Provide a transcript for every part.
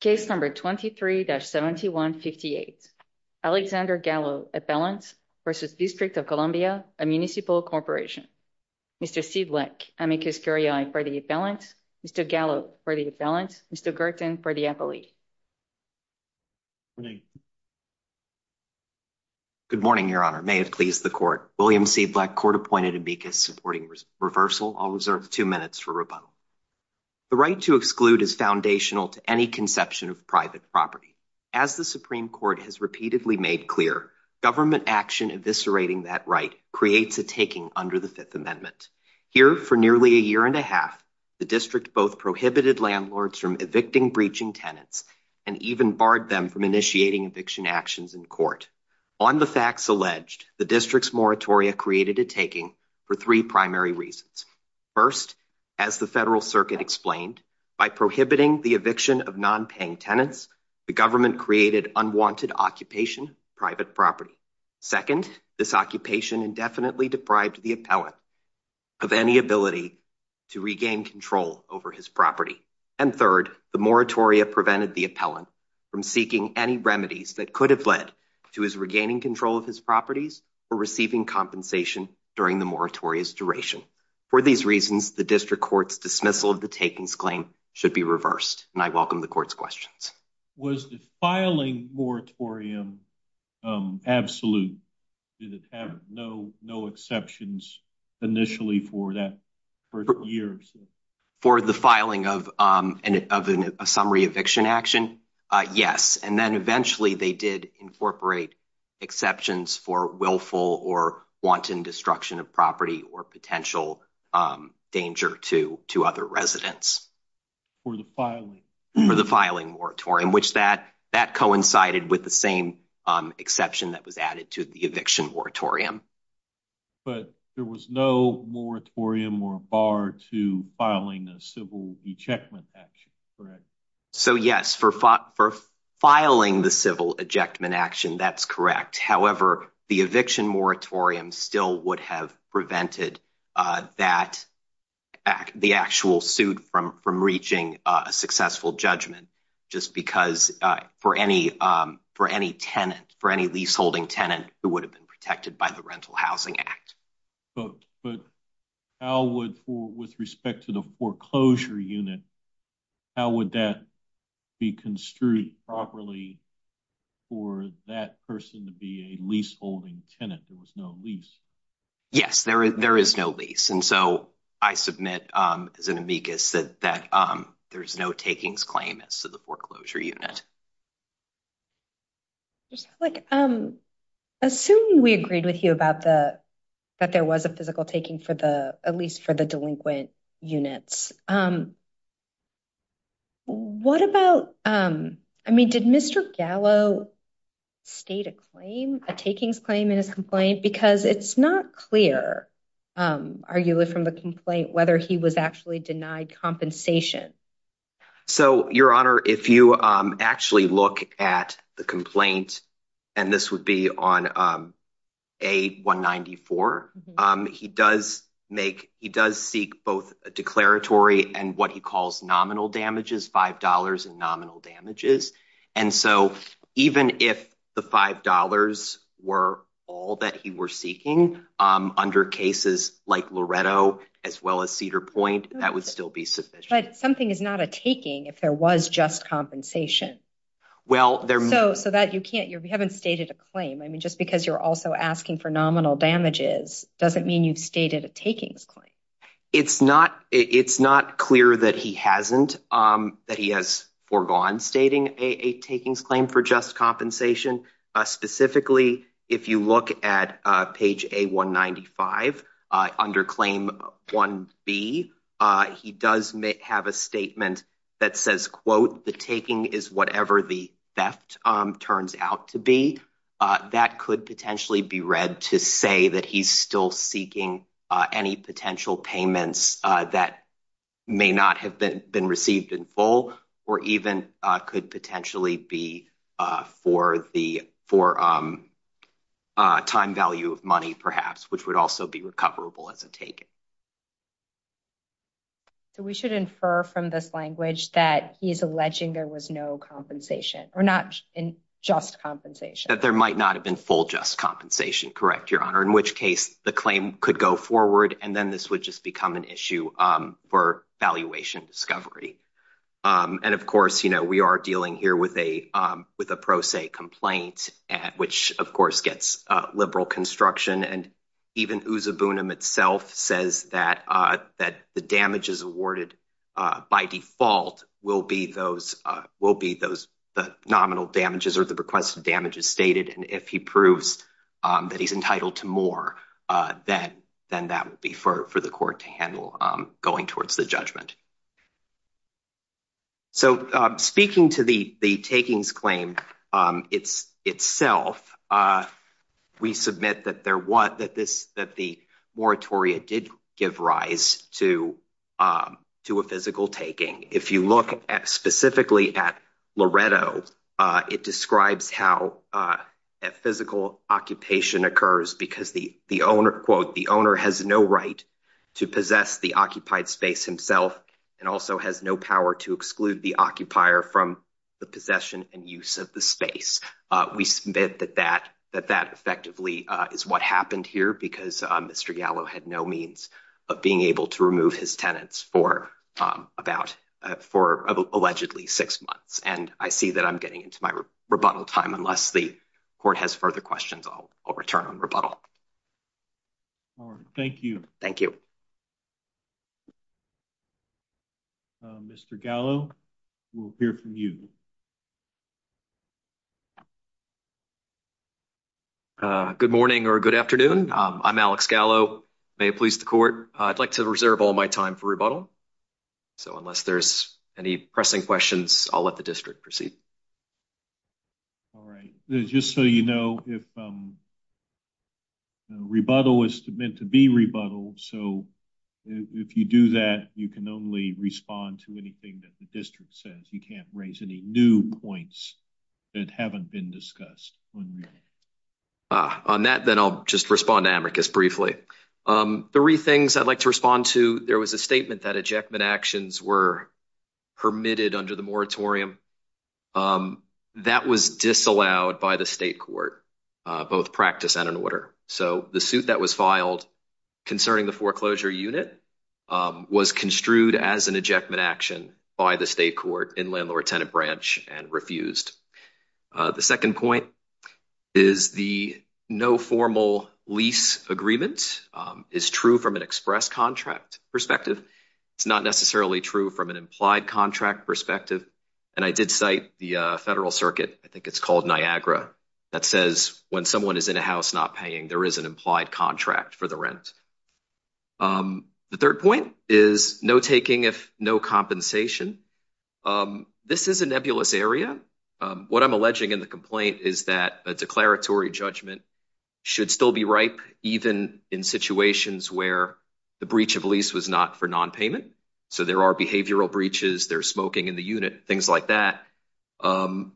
Case number 23-7158. Alexander Gallo, Appellant, versus District of Columbia, a Municipal Corporation. Mr. Seedleck, amicus curiae for the Appellant. Mr. Gallo for the Appellant. Mr. Girton for the Appellee. Good morning, Your Honor. May it please the Court. William Seedleck, court-appointed amicus supporting reversal. I'll reserve two minutes for rebuttal. The right to exclude is foundational to any conception of private property. As the Supreme Court has repeatedly made clear, government action eviscerating that right creates a taking under the Fifth Amendment. Here, for nearly a year and a half, the District both prohibited landlords from evicting breaching tenants and even barred them from initiating eviction actions in court. On the facts alleged, the District's moratoria created a taking for three primary reasons. First, as the Federal Circuit explained, by prohibiting the eviction of nonpaying tenants, the government created unwanted occupation of private property. Second, this occupation indefinitely deprived the Appellant of any ability to regain control over his property. And third, the moratoria prevented the Appellant from seeking any remedies that could have led to his regaining control of his properties or receiving compensation during the moratoria's duration. For these reasons, the District Court's dismissal of the takings claim should be reversed, and I welcome the Court's questions. Was the filing moratorium absolute? Did it have no exceptions initially for that first year? For the filing of a summary eviction action, yes. And then eventually they did incorporate exceptions for willful or wanton destruction of property or potential danger to other residents. For the filing? For the filing moratorium, which that coincided with the same exception that was added to the eviction moratorium. But there was no moratorium or bar to filing a civil ejectment action, correct? So yes, for filing the civil ejectment action, that's correct. However, the eviction moratorium still would have prevented the actual suit from reaching a successful judgment, just because for any tenant, for any leaseholding tenant, it would have been protected by the Rental Housing Act. But how would, with respect to the foreclosure unit, how would that be construed properly for that person to be a leaseholding tenant? There was no lease. Yes, there is no lease. And so I submit, as an amicus, that there's no takings claim as to the that there was a physical taking for the, at least for the delinquent units. What about, I mean, did Mr. Gallo state a claim, a takings claim in his complaint? Because it's not clear, arguably from the complaint, whether he was actually denied compensation. So, Your Honor, if you actually look at the complaint, and this would be on A194, he does make, he does seek both a declaratory and what he calls nominal damages, $5 in nominal damages. And so even if the $5 were all that he were seeking under cases like Loretto, as well as Cedar Point, that would still be sufficient. But something is not a taking if there was just compensation. Well, there... So that you can't, you haven't stated a claim. I mean, just because you're also asking for nominal damages doesn't mean you've stated a takings claim. It's not clear that he hasn't, that he has foregone stating a takings claim for just a nominal amount of money. So, Your Honor, if he does have a statement that says, quote, the taking is whatever the theft turns out to be, that could potentially be read to say that he's still seeking any potential payments that may not have been received in full, or even could potentially be for the, for time value of money, perhaps, which would also be recoverable as a taking. So we should infer from this language that he's alleging there was no compensation, or not just compensation. That there might not have been full just compensation, correct, Your Honor, in which case the claim could go forward, and then this would just become an issue for valuation discovery. And, of course, you know, we are dealing here with a pro se complaint, which, of course, gets liberal construction. And even Uzabunim itself says that the damages awarded by default will be those, will be those, the nominal damages or the requested damages stated. And if he proves that he's entitled to more, then that would be for the court to handle going towards the judgment. So speaking to the takings claim itself, we submit that there was, that this, that the moratoria did give rise to a physical taking. If you look at specifically at Loretto, it describes how a physical occupation occurs because the owner, quote, the owner has no right to possess the occupied space himself, and also has no power to exclude the occupier from the possession and use of the space. We submit that that, that that effectively is what happened here because Mr. Gallo had no means of being able to remove his tenants for about, for allegedly six months. And I see that I'm getting into my rebuttal time unless the court has further questions. I'll, I'll return on rebuttal. All right. Thank you. Thank you. Mr. Gallo, we'll hear from you. Good morning or good afternoon. I'm Alex Gallo. May it please the court. I'd like to reserve all my time for rebuttal. So unless there's any pressing questions, I'll let the district proceed. All right. Just so you know, if rebuttal is meant to be rebuttal, so if you do that, you can only respond to anything that the district says. You can't raise any new points that haven't been discussed. On that, then I'll just respond to Amicus briefly. Three things I'd like to respond to. There was a statement that ejectment actions were permitted under the Landlord-Tenant Corrections Regulation. That was disallowed by the state court, both practice and in order. So the suit that was filed concerning the foreclosure unit was construed as an ejectment action by the state court in Landlord-Tenant Branch and refused. The second point is the no formal lease agreement is true from an express contract perspective. It's not necessarily true from an implied contract perspective. And I did cite the Federal Circuit, I think it's called Niagara, that says when someone is in a house not paying, there is an implied contract for the rent. The third point is no taking if no compensation. This is a nebulous area. What I'm alleging in the complaint is that a declaratory judgment should still be ripe, even in situations where the breach of lease was not for nonpayment. So there are behavioral breaches, there's smoking in the unit, things like that. Did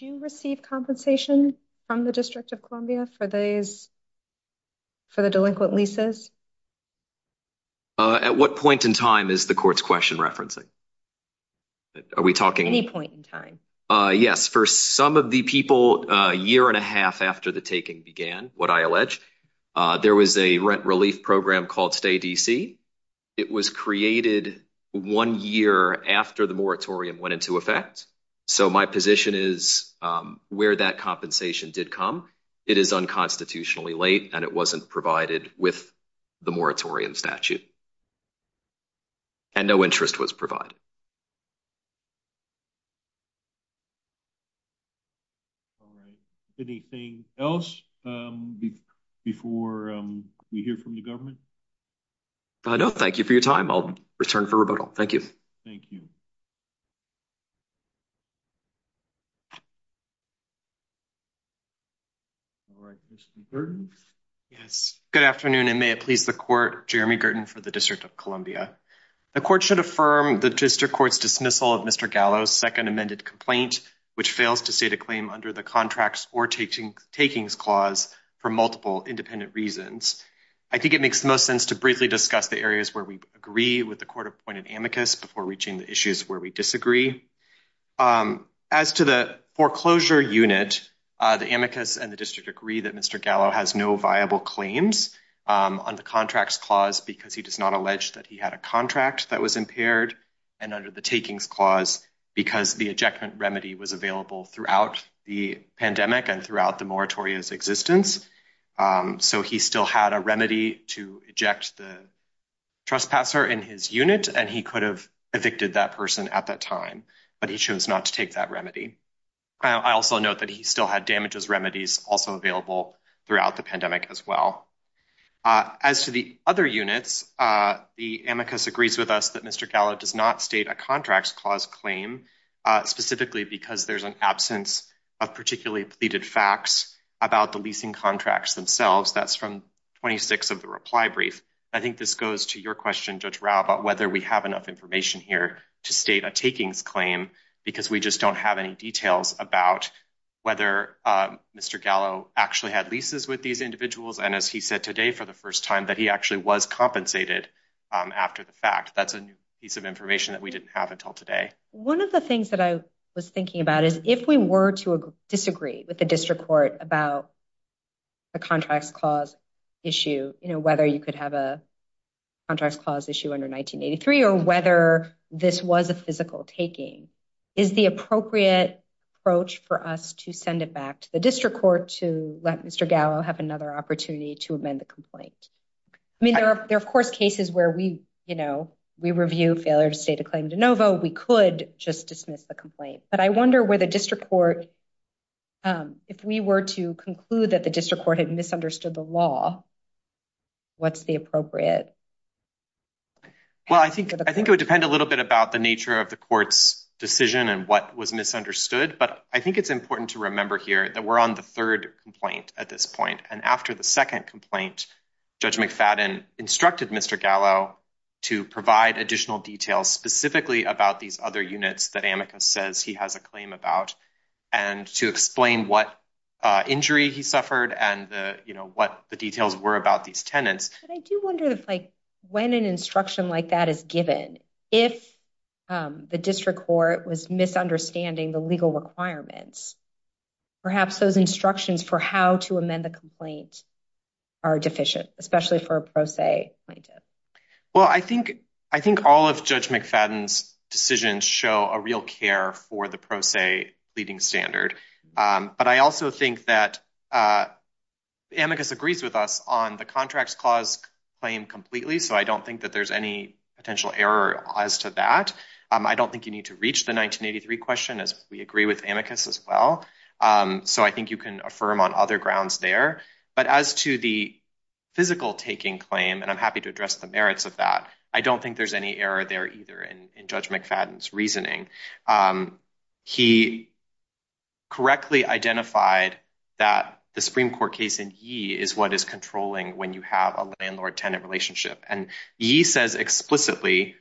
you receive compensation from the District of Columbia for the delinquent leases? At what point in time is the court's question referencing? At any point in time? Yes. For some of the people a year and a half after the taking began, what I allege, there was a rent relief program called Stay DC. It was created one year after the moratorium went into effect. So my position is where that compensation did come, it is unconstitutionally late and it wasn't provided with the moratorium statute. And no interest was made in that. All right. Anything else before we hear from the government? I don't. Thank you for your time. I'll return for rebuttal. Thank you. Thank you. All right. Mr. Gurdon? Yes. Good afternoon and may it please the court, Jeremy Gurdon for the District of Columbia. The court should affirm the district court's dismissal of Mr. Gallo's second amended complaint, which fails to state a claim under the contracts or takings clause for multiple independent reasons. I think it makes the most sense to briefly discuss the areas where we agree with the court appointed amicus before reaching the issues where we disagree. As to the foreclosure unit, the amicus and the district agree that Mr. Gallo has no viable claims on the contracts clause because he does not allege that he had a contract that was impaired and under the takings clause because the ejectment remedy was available throughout the pandemic and throughout the moratorium's existence. So he still had a remedy to eject the trespasser in his unit and he could have evicted that person at that time, but he chose not to take that remedy. I also note that he still had damages remedies also available throughout the as well. As to the other units, the amicus agrees with us that Mr. Gallo does not state a contracts clause claim specifically because there's an absence of particularly pleaded facts about the leasing contracts themselves. That's from 26 of the reply brief. I think this goes to your question, Judge Rao, about whether we have enough information here to state a takings claim because we just don't have any details about whether Mr. Gallo actually had leases with individuals and as he said today for the first time that he actually was compensated after the fact. That's a new piece of information that we didn't have until today. One of the things that I was thinking about is if we were to disagree with the district court about a contracts clause issue, you know, whether you could have a contracts clause issue under 1983 or whether this was a physical taking, is the appropriate approach for us to send it back to the district court to let Mr. Gallo have another opportunity to amend the complaint? I mean, there are of course cases where we, you know, we review failure to state a claim de novo. We could just dismiss the complaint. But I wonder where the district court, if we were to conclude that the district court had misunderstood the law, what's the appropriate? Well, I think it would depend a little bit about the nature of the court's decision and what was misunderstood. But I think it's important to remember here that we're on the third complaint at this point. And after the second complaint, Judge McFadden instructed Mr. Gallo to provide additional details specifically about these other units that Amicus says he has a claim about and to explain what injury he suffered and the, you know, what the details were about these tenants. But I do wonder if like when an instruction like that is given, if the district court was misunderstanding the legal requirements, perhaps those instructions for how to amend the complaint are deficient, especially for a pro se plaintiff. Well, I think, I think all of Judge McFadden's decisions show a real care for the pro se pleading standard. But I also think that Amicus agrees with us on the contracts clause claim completely. So I don't think that there's any potential error as to that. I don't think you need to reach the 1983 question as we agree with Amicus as well. So I think you can affirm on other grounds there. But as to the physical taking claim, and I'm happy to address the merits of that, I don't think there's any error there either in Judge McFadden's reasoning. He correctly identified that the Supreme Court case in Yee is what is controlling when you have a landlord-tenant relationship. And Yee says explicitly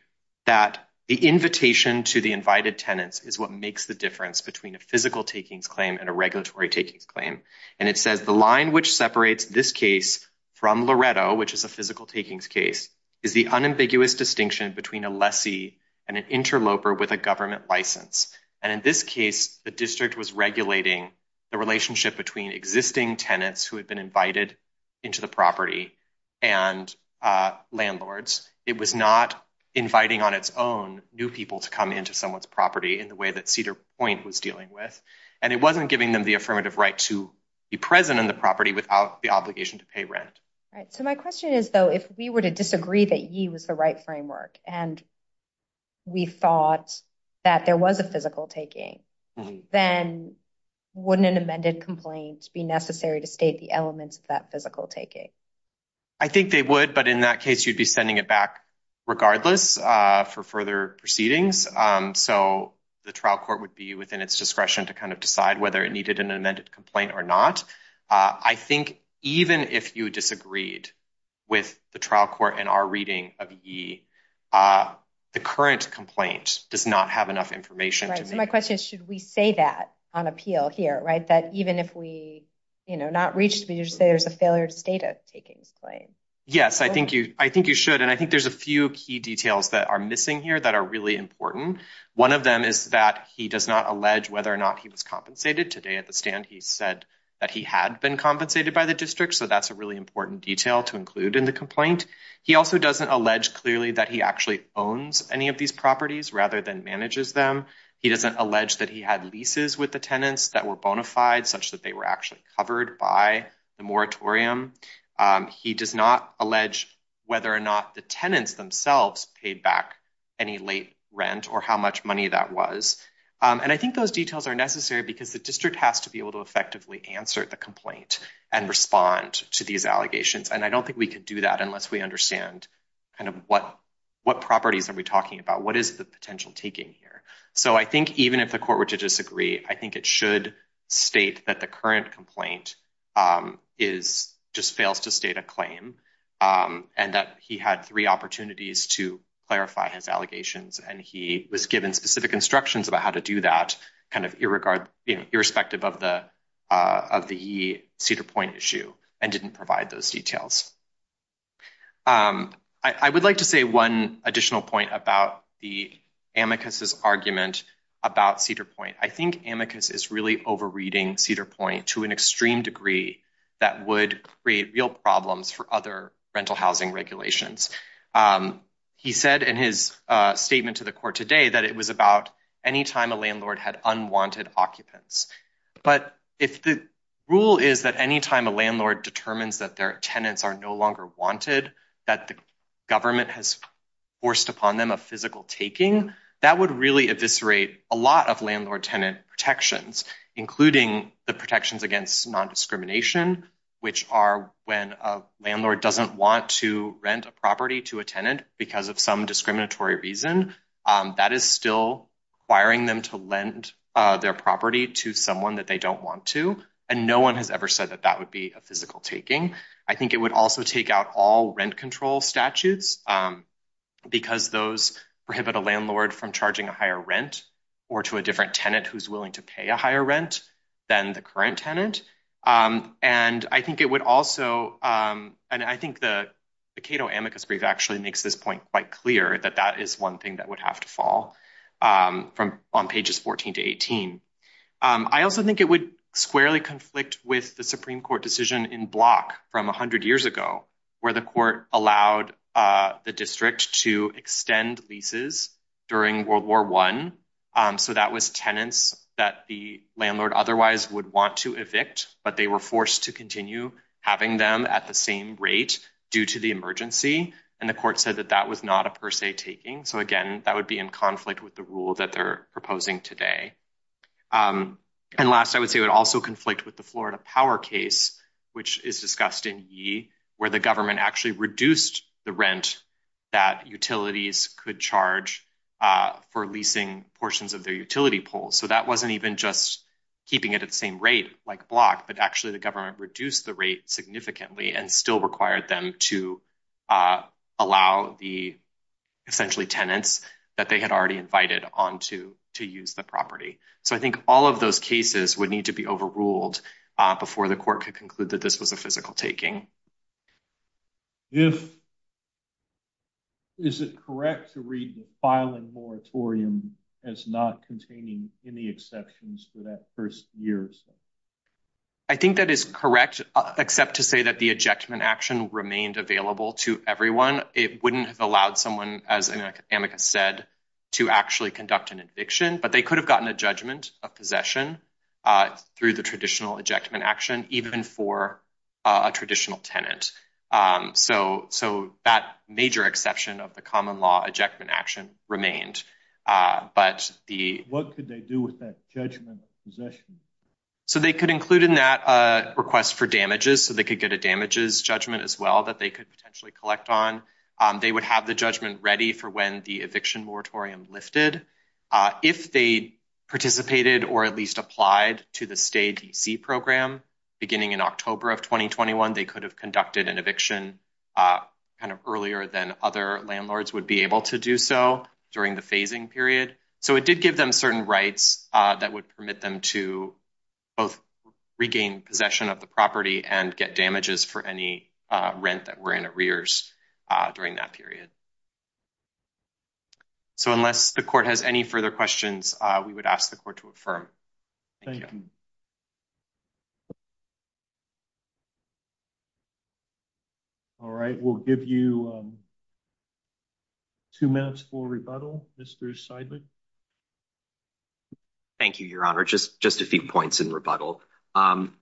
that the invitation to the invited tenants is what makes the difference between a physical takings claim and a regulatory takings claim. And it says the line which separates this case from Loretto, which is a physical takings case, is the unambiguous distinction between a lessee and an interloper with a government license. And in this case, the district was regulating the relationship between existing tenants who had been invited into the property and landlords. It was not inviting on its own new people to come into someone's property in the way that Cedar Point was dealing with. And it wasn't giving them the affirmative right to be present on the property without the obligation to pay rent. Right. So my question is, though, if we were to disagree that Yee was the right framework and we thought that there was a physical taking, then wouldn't an amended complaint be necessary to state the elements of that physical taking? I think they would. But in that case, you'd be sending it back regardless for further proceedings. So the trial court would be within its discretion to kind of decide whether it needed an amended complaint or not. I think even if you disagreed with the trial court in our reading of Yee, uh, the current complaint does not have enough information. Right. So my question is, should we say that on appeal here, right? That even if we, you know, not reached, we just say there's a failure to state a takings claim. Yes, I think you should. And I think there's a few key details that are missing here that are really important. One of them is that he does not allege whether or not he was compensated. Today at the stand, he said that he had been compensated by the district. So that's a really important detail to include in the complaint. He also doesn't allege clearly that he actually owns any of these properties rather than manages them. He doesn't allege that he had leases with the tenants that were bona fide such that they were actually covered by the moratorium. Um, he does not allege whether or not the tenants themselves paid back any late rent or how much money that was. Um, and I think those details are necessary because the district has to be able to effectively answer the complaint and respond to these allegations. And I don't think we could do that unless we understand kind of what, what properties are we talking about? What is the potential taking here? So I think even if the court were to disagree, I think it should state that the current complaint is just fails to state a claim. Um, and that he had three opportunities to clarify his allegations. And he was given specific instructions about how to do that kind of irregard, you know, irrespective of the Cedar Point issue and didn't provide those details. Um, I would like to say one additional point about the amicus's argument about Cedar Point. I think amicus is really overreading Cedar Point to an extreme degree that would create real problems for other rental housing regulations. Um, he said in his, uh, statement to the court today that it was about anytime a landlord had unwanted occupants. But if the rule is that anytime a landlord determines that their tenants are no longer wanted, that the government has forced upon them a physical taking, that would really eviscerate a lot of landlord tenant protections, including the protections against non-discrimination, which are when a landlord doesn't want to rent a property to a acquiring them to lend, uh, their property to someone that they don't want to. And no one has ever said that that would be a physical taking. I think it would also take out all rent control statutes, um, because those prohibit a landlord from charging a higher rent or to a different tenant who's willing to pay a higher rent than the current tenant. Um, and I think it would also, um, and I think the Cato amicus brief actually makes this point quite clear that that is one thing that would have to fall, um, from on pages 14 to 18. Um, I also think it would squarely conflict with the Supreme court decision in block from a hundred years ago where the court allowed, uh, the district to extend leases during world war one. Um, so that was tenants that the landlord otherwise would want to evict, but they were forced to continue having them at the same rate due to the emergency. And the court said that that was not a per se taking. So again, that would be in conflict with the rule that they're proposing today. Um, and last I would say would also conflict with the Florida power case, which is discussed in ye where the government actually reduced the rent that utilities could charge, uh, for leasing portions of their utility poles. So that wasn't even just keeping it at the same rate like block, but actually the government reduced the rate significantly and still required them to, uh, allow the essentially tenants that they had already invited on to, to use the property. So I think all of those cases would need to be overruled, uh, before the court could conclude that this was a physical taking. If is it correct to read the filing moratorium as not containing any exceptions for that first years? I think that is correct, except to say that the ejection action remained available to everyone. It wouldn't have allowed someone, as Amica said, to actually conduct an eviction, but they could have gotten a judgment of possession, uh, through the traditional ejection action, even for a traditional tenant. Um, so so that major exception of the common law ejection action remained, uh, but the, what could they do with that judgment possession? So they could include in that, uh, request for damages. So they could get a damages judgment as well that they could potentially collect on. Um, they would have the judgment ready for when the eviction moratorium lifted, uh, if they participated or at least applied to the state program beginning in October of 2021, they could have conducted an eviction, uh, kind of earlier than other landlords would be able to do so during the phasing period. So it did give them certain rights, uh, that would permit them to both regain possession of the property and get damages for any, uh, rent that were in arrears, uh, during that period. So unless the court has any further questions, uh, we would Two minutes for rebuttal. Mr. Seidlich. Thank you, your honor. Just, just a few points in rebuttal. Um,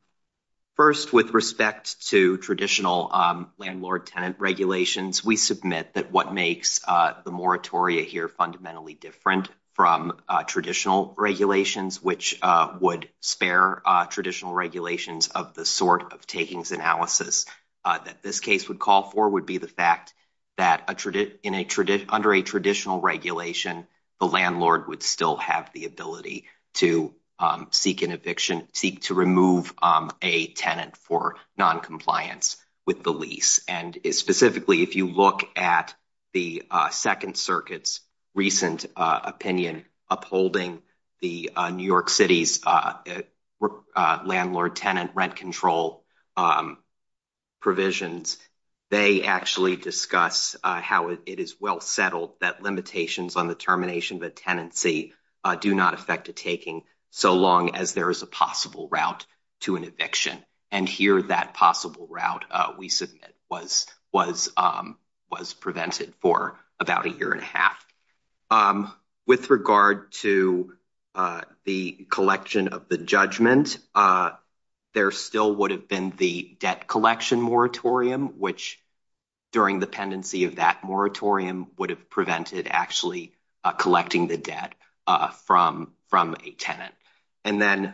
first with respect to traditional, um, landlord tenant regulations, we submit that what makes, uh, the moratoria here fundamentally different from, uh, traditional regulations, which, uh, would spare, uh, traditional regulations of the sort of takings analysis, uh, that this case would call for would be the fact that in a under a traditional regulation, the landlord would still have the ability to, um, seek an eviction, seek to remove, um, a tenant for noncompliance with the lease. And specifically, if you look at the, uh, second circuits, recent, uh, opinion upholding the, uh, New York city's, uh, uh, uh, that limitations on the termination of a tenancy, uh, do not affect a taking so long as there is a possible route to an eviction. And here that possible route, uh, we submit was, was, um, was prevented for about a year and a half. Um, with regard to, uh, the collection of the judgment, uh, there still would have been the debt collection moratorium, which during the would have prevented actually, uh, collecting the debt, uh, from, from a tenant. And then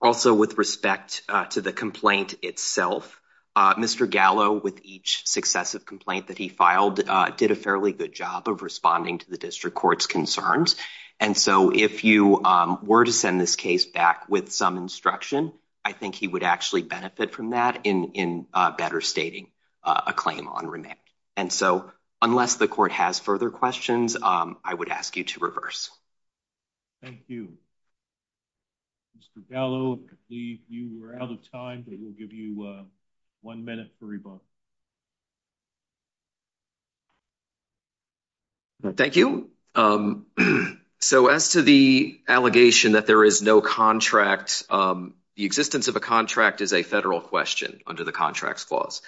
also with respect to the complaint itself, uh, Mr. Gallo with each successive complaint that he filed, uh, did a fairly good job of responding to the district court's concerns. And so if you, um, were to send this case back with some instruction, I think he would actually benefit from that in, in, uh, better stating, uh, a claim on remand. And so unless the court has further questions, um, I would ask you to reverse. Thank you. Mr. Gallo, I believe you were out of time, but we'll give you a one minute for rebuttal. Thank you. Um, so as to the allegation that there is no contract, um, the existence of a contract is a federal question under the contracts clause.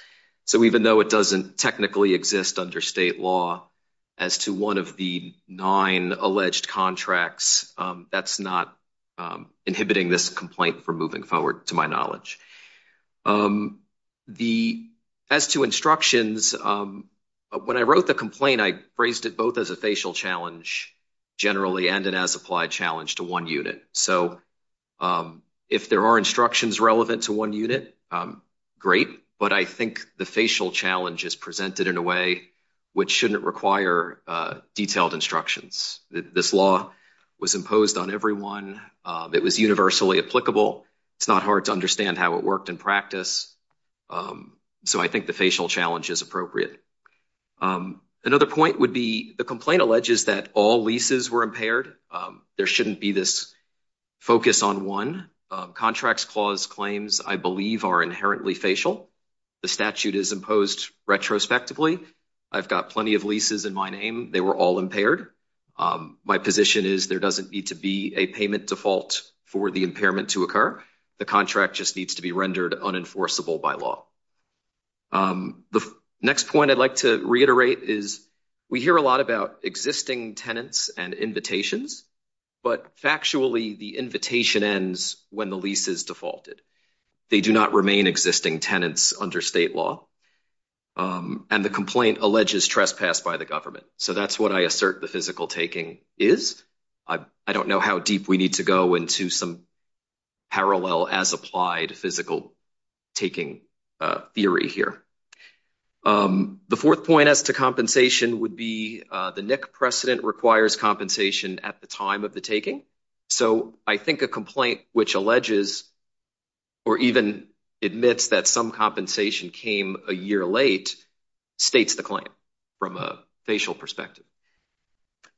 So even though it doesn't technically exist under state law as to one of the nine alleged contracts, um, that's not, um, inhibiting this complaint for moving forward to my knowledge. Um, the, as to instructions, um, when I wrote the complaint, I phrased it both as a facial challenge generally and an as applied challenge to one unit. So, um, if there are instructions relevant to one unit, um, great, but I think the facial challenge is presented in a way which shouldn't require, uh, detailed instructions. This law was imposed on everyone. Um, it was universally applicable. It's not hard to understand how it worked in practice. Um, so I think the facial challenge is appropriate. Um, another point would be the complaint alleges that all leases were impaired. Um, there shouldn't be this focus on one. Um, contracts clause claims, I believe, are inherently facial. The statute is imposed retrospectively. I've got plenty of leases in my name. They were all impaired. Um, my position is there doesn't need to be a payment default for the impairment to occur. The contract just needs to be rendered unenforceable by law. Um, the next point I'd like to reiterate is we hear a lot about existing tenants and invitations, but factually the invitation ends when the lease is defaulted. They do not remain existing tenants under state law. Um, and the complaint alleges trespass by the government. So that's what I assert the physical taking is. I don't know how deep we need to go into some parallel as applied physical taking, uh, theory here. Um, the fourth point as to compensation would be, uh, the NIC precedent requires compensation at the time of the taking. So I think a complaint which alleges or even admits that some compensation came a year late states the claim from a facial perspective.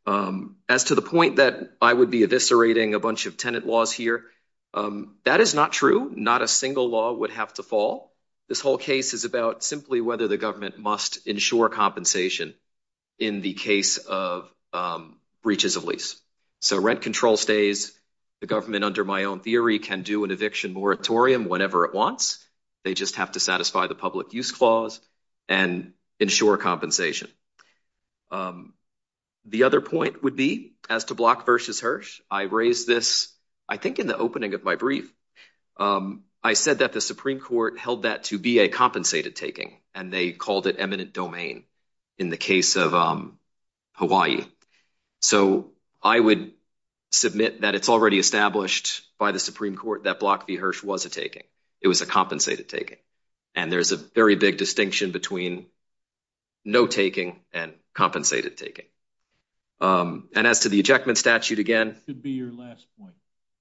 Um, as to the point that I would be eviscerating a bunch of tenant laws here, um, that is not true. Not a single law would have to fall. This whole case is about simply whether the government must ensure compensation in the case of, um, breaches of lease. So rent control stays. The government under my own theory can do an eviction moratorium whenever it wants. They just have to satisfy the public use clause and ensure compensation. Um, the other point would be as to Block v. Hirsch, I raised this, I think, in the opening of my brief. Um, I said that the Supreme Court held that to be a compensated taking, and they called it eminent domain in the case of, um, Hawaii. So I would submit that it's already established by the Supreme Court that Block v. Hirsch was a taking. It was a compensated taking. And there's a very big distinction between no taking and compensated taking. Um, and as to the ejectment statute again,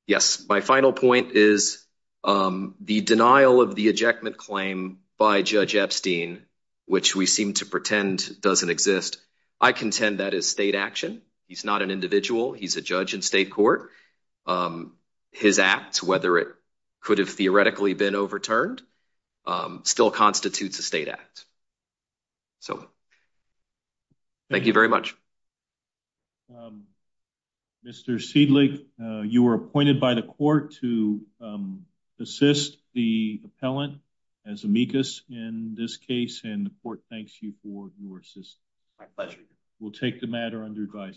yes, my final point is, um, the denial of the ejectment claim by Judge Epstein, which we seem to pretend doesn't exist. I contend that is state action. He's not an individual. He's a judge in state court. Um, his acts, whether it could have theoretically been overturned, um, still constitutes a state act. So thank you very much. Um, Mr. Seidlich, you were appointed by the court to, um, assist the appellant as amicus in this case, and the court thanks you for your assistance. We'll take the matter under advice.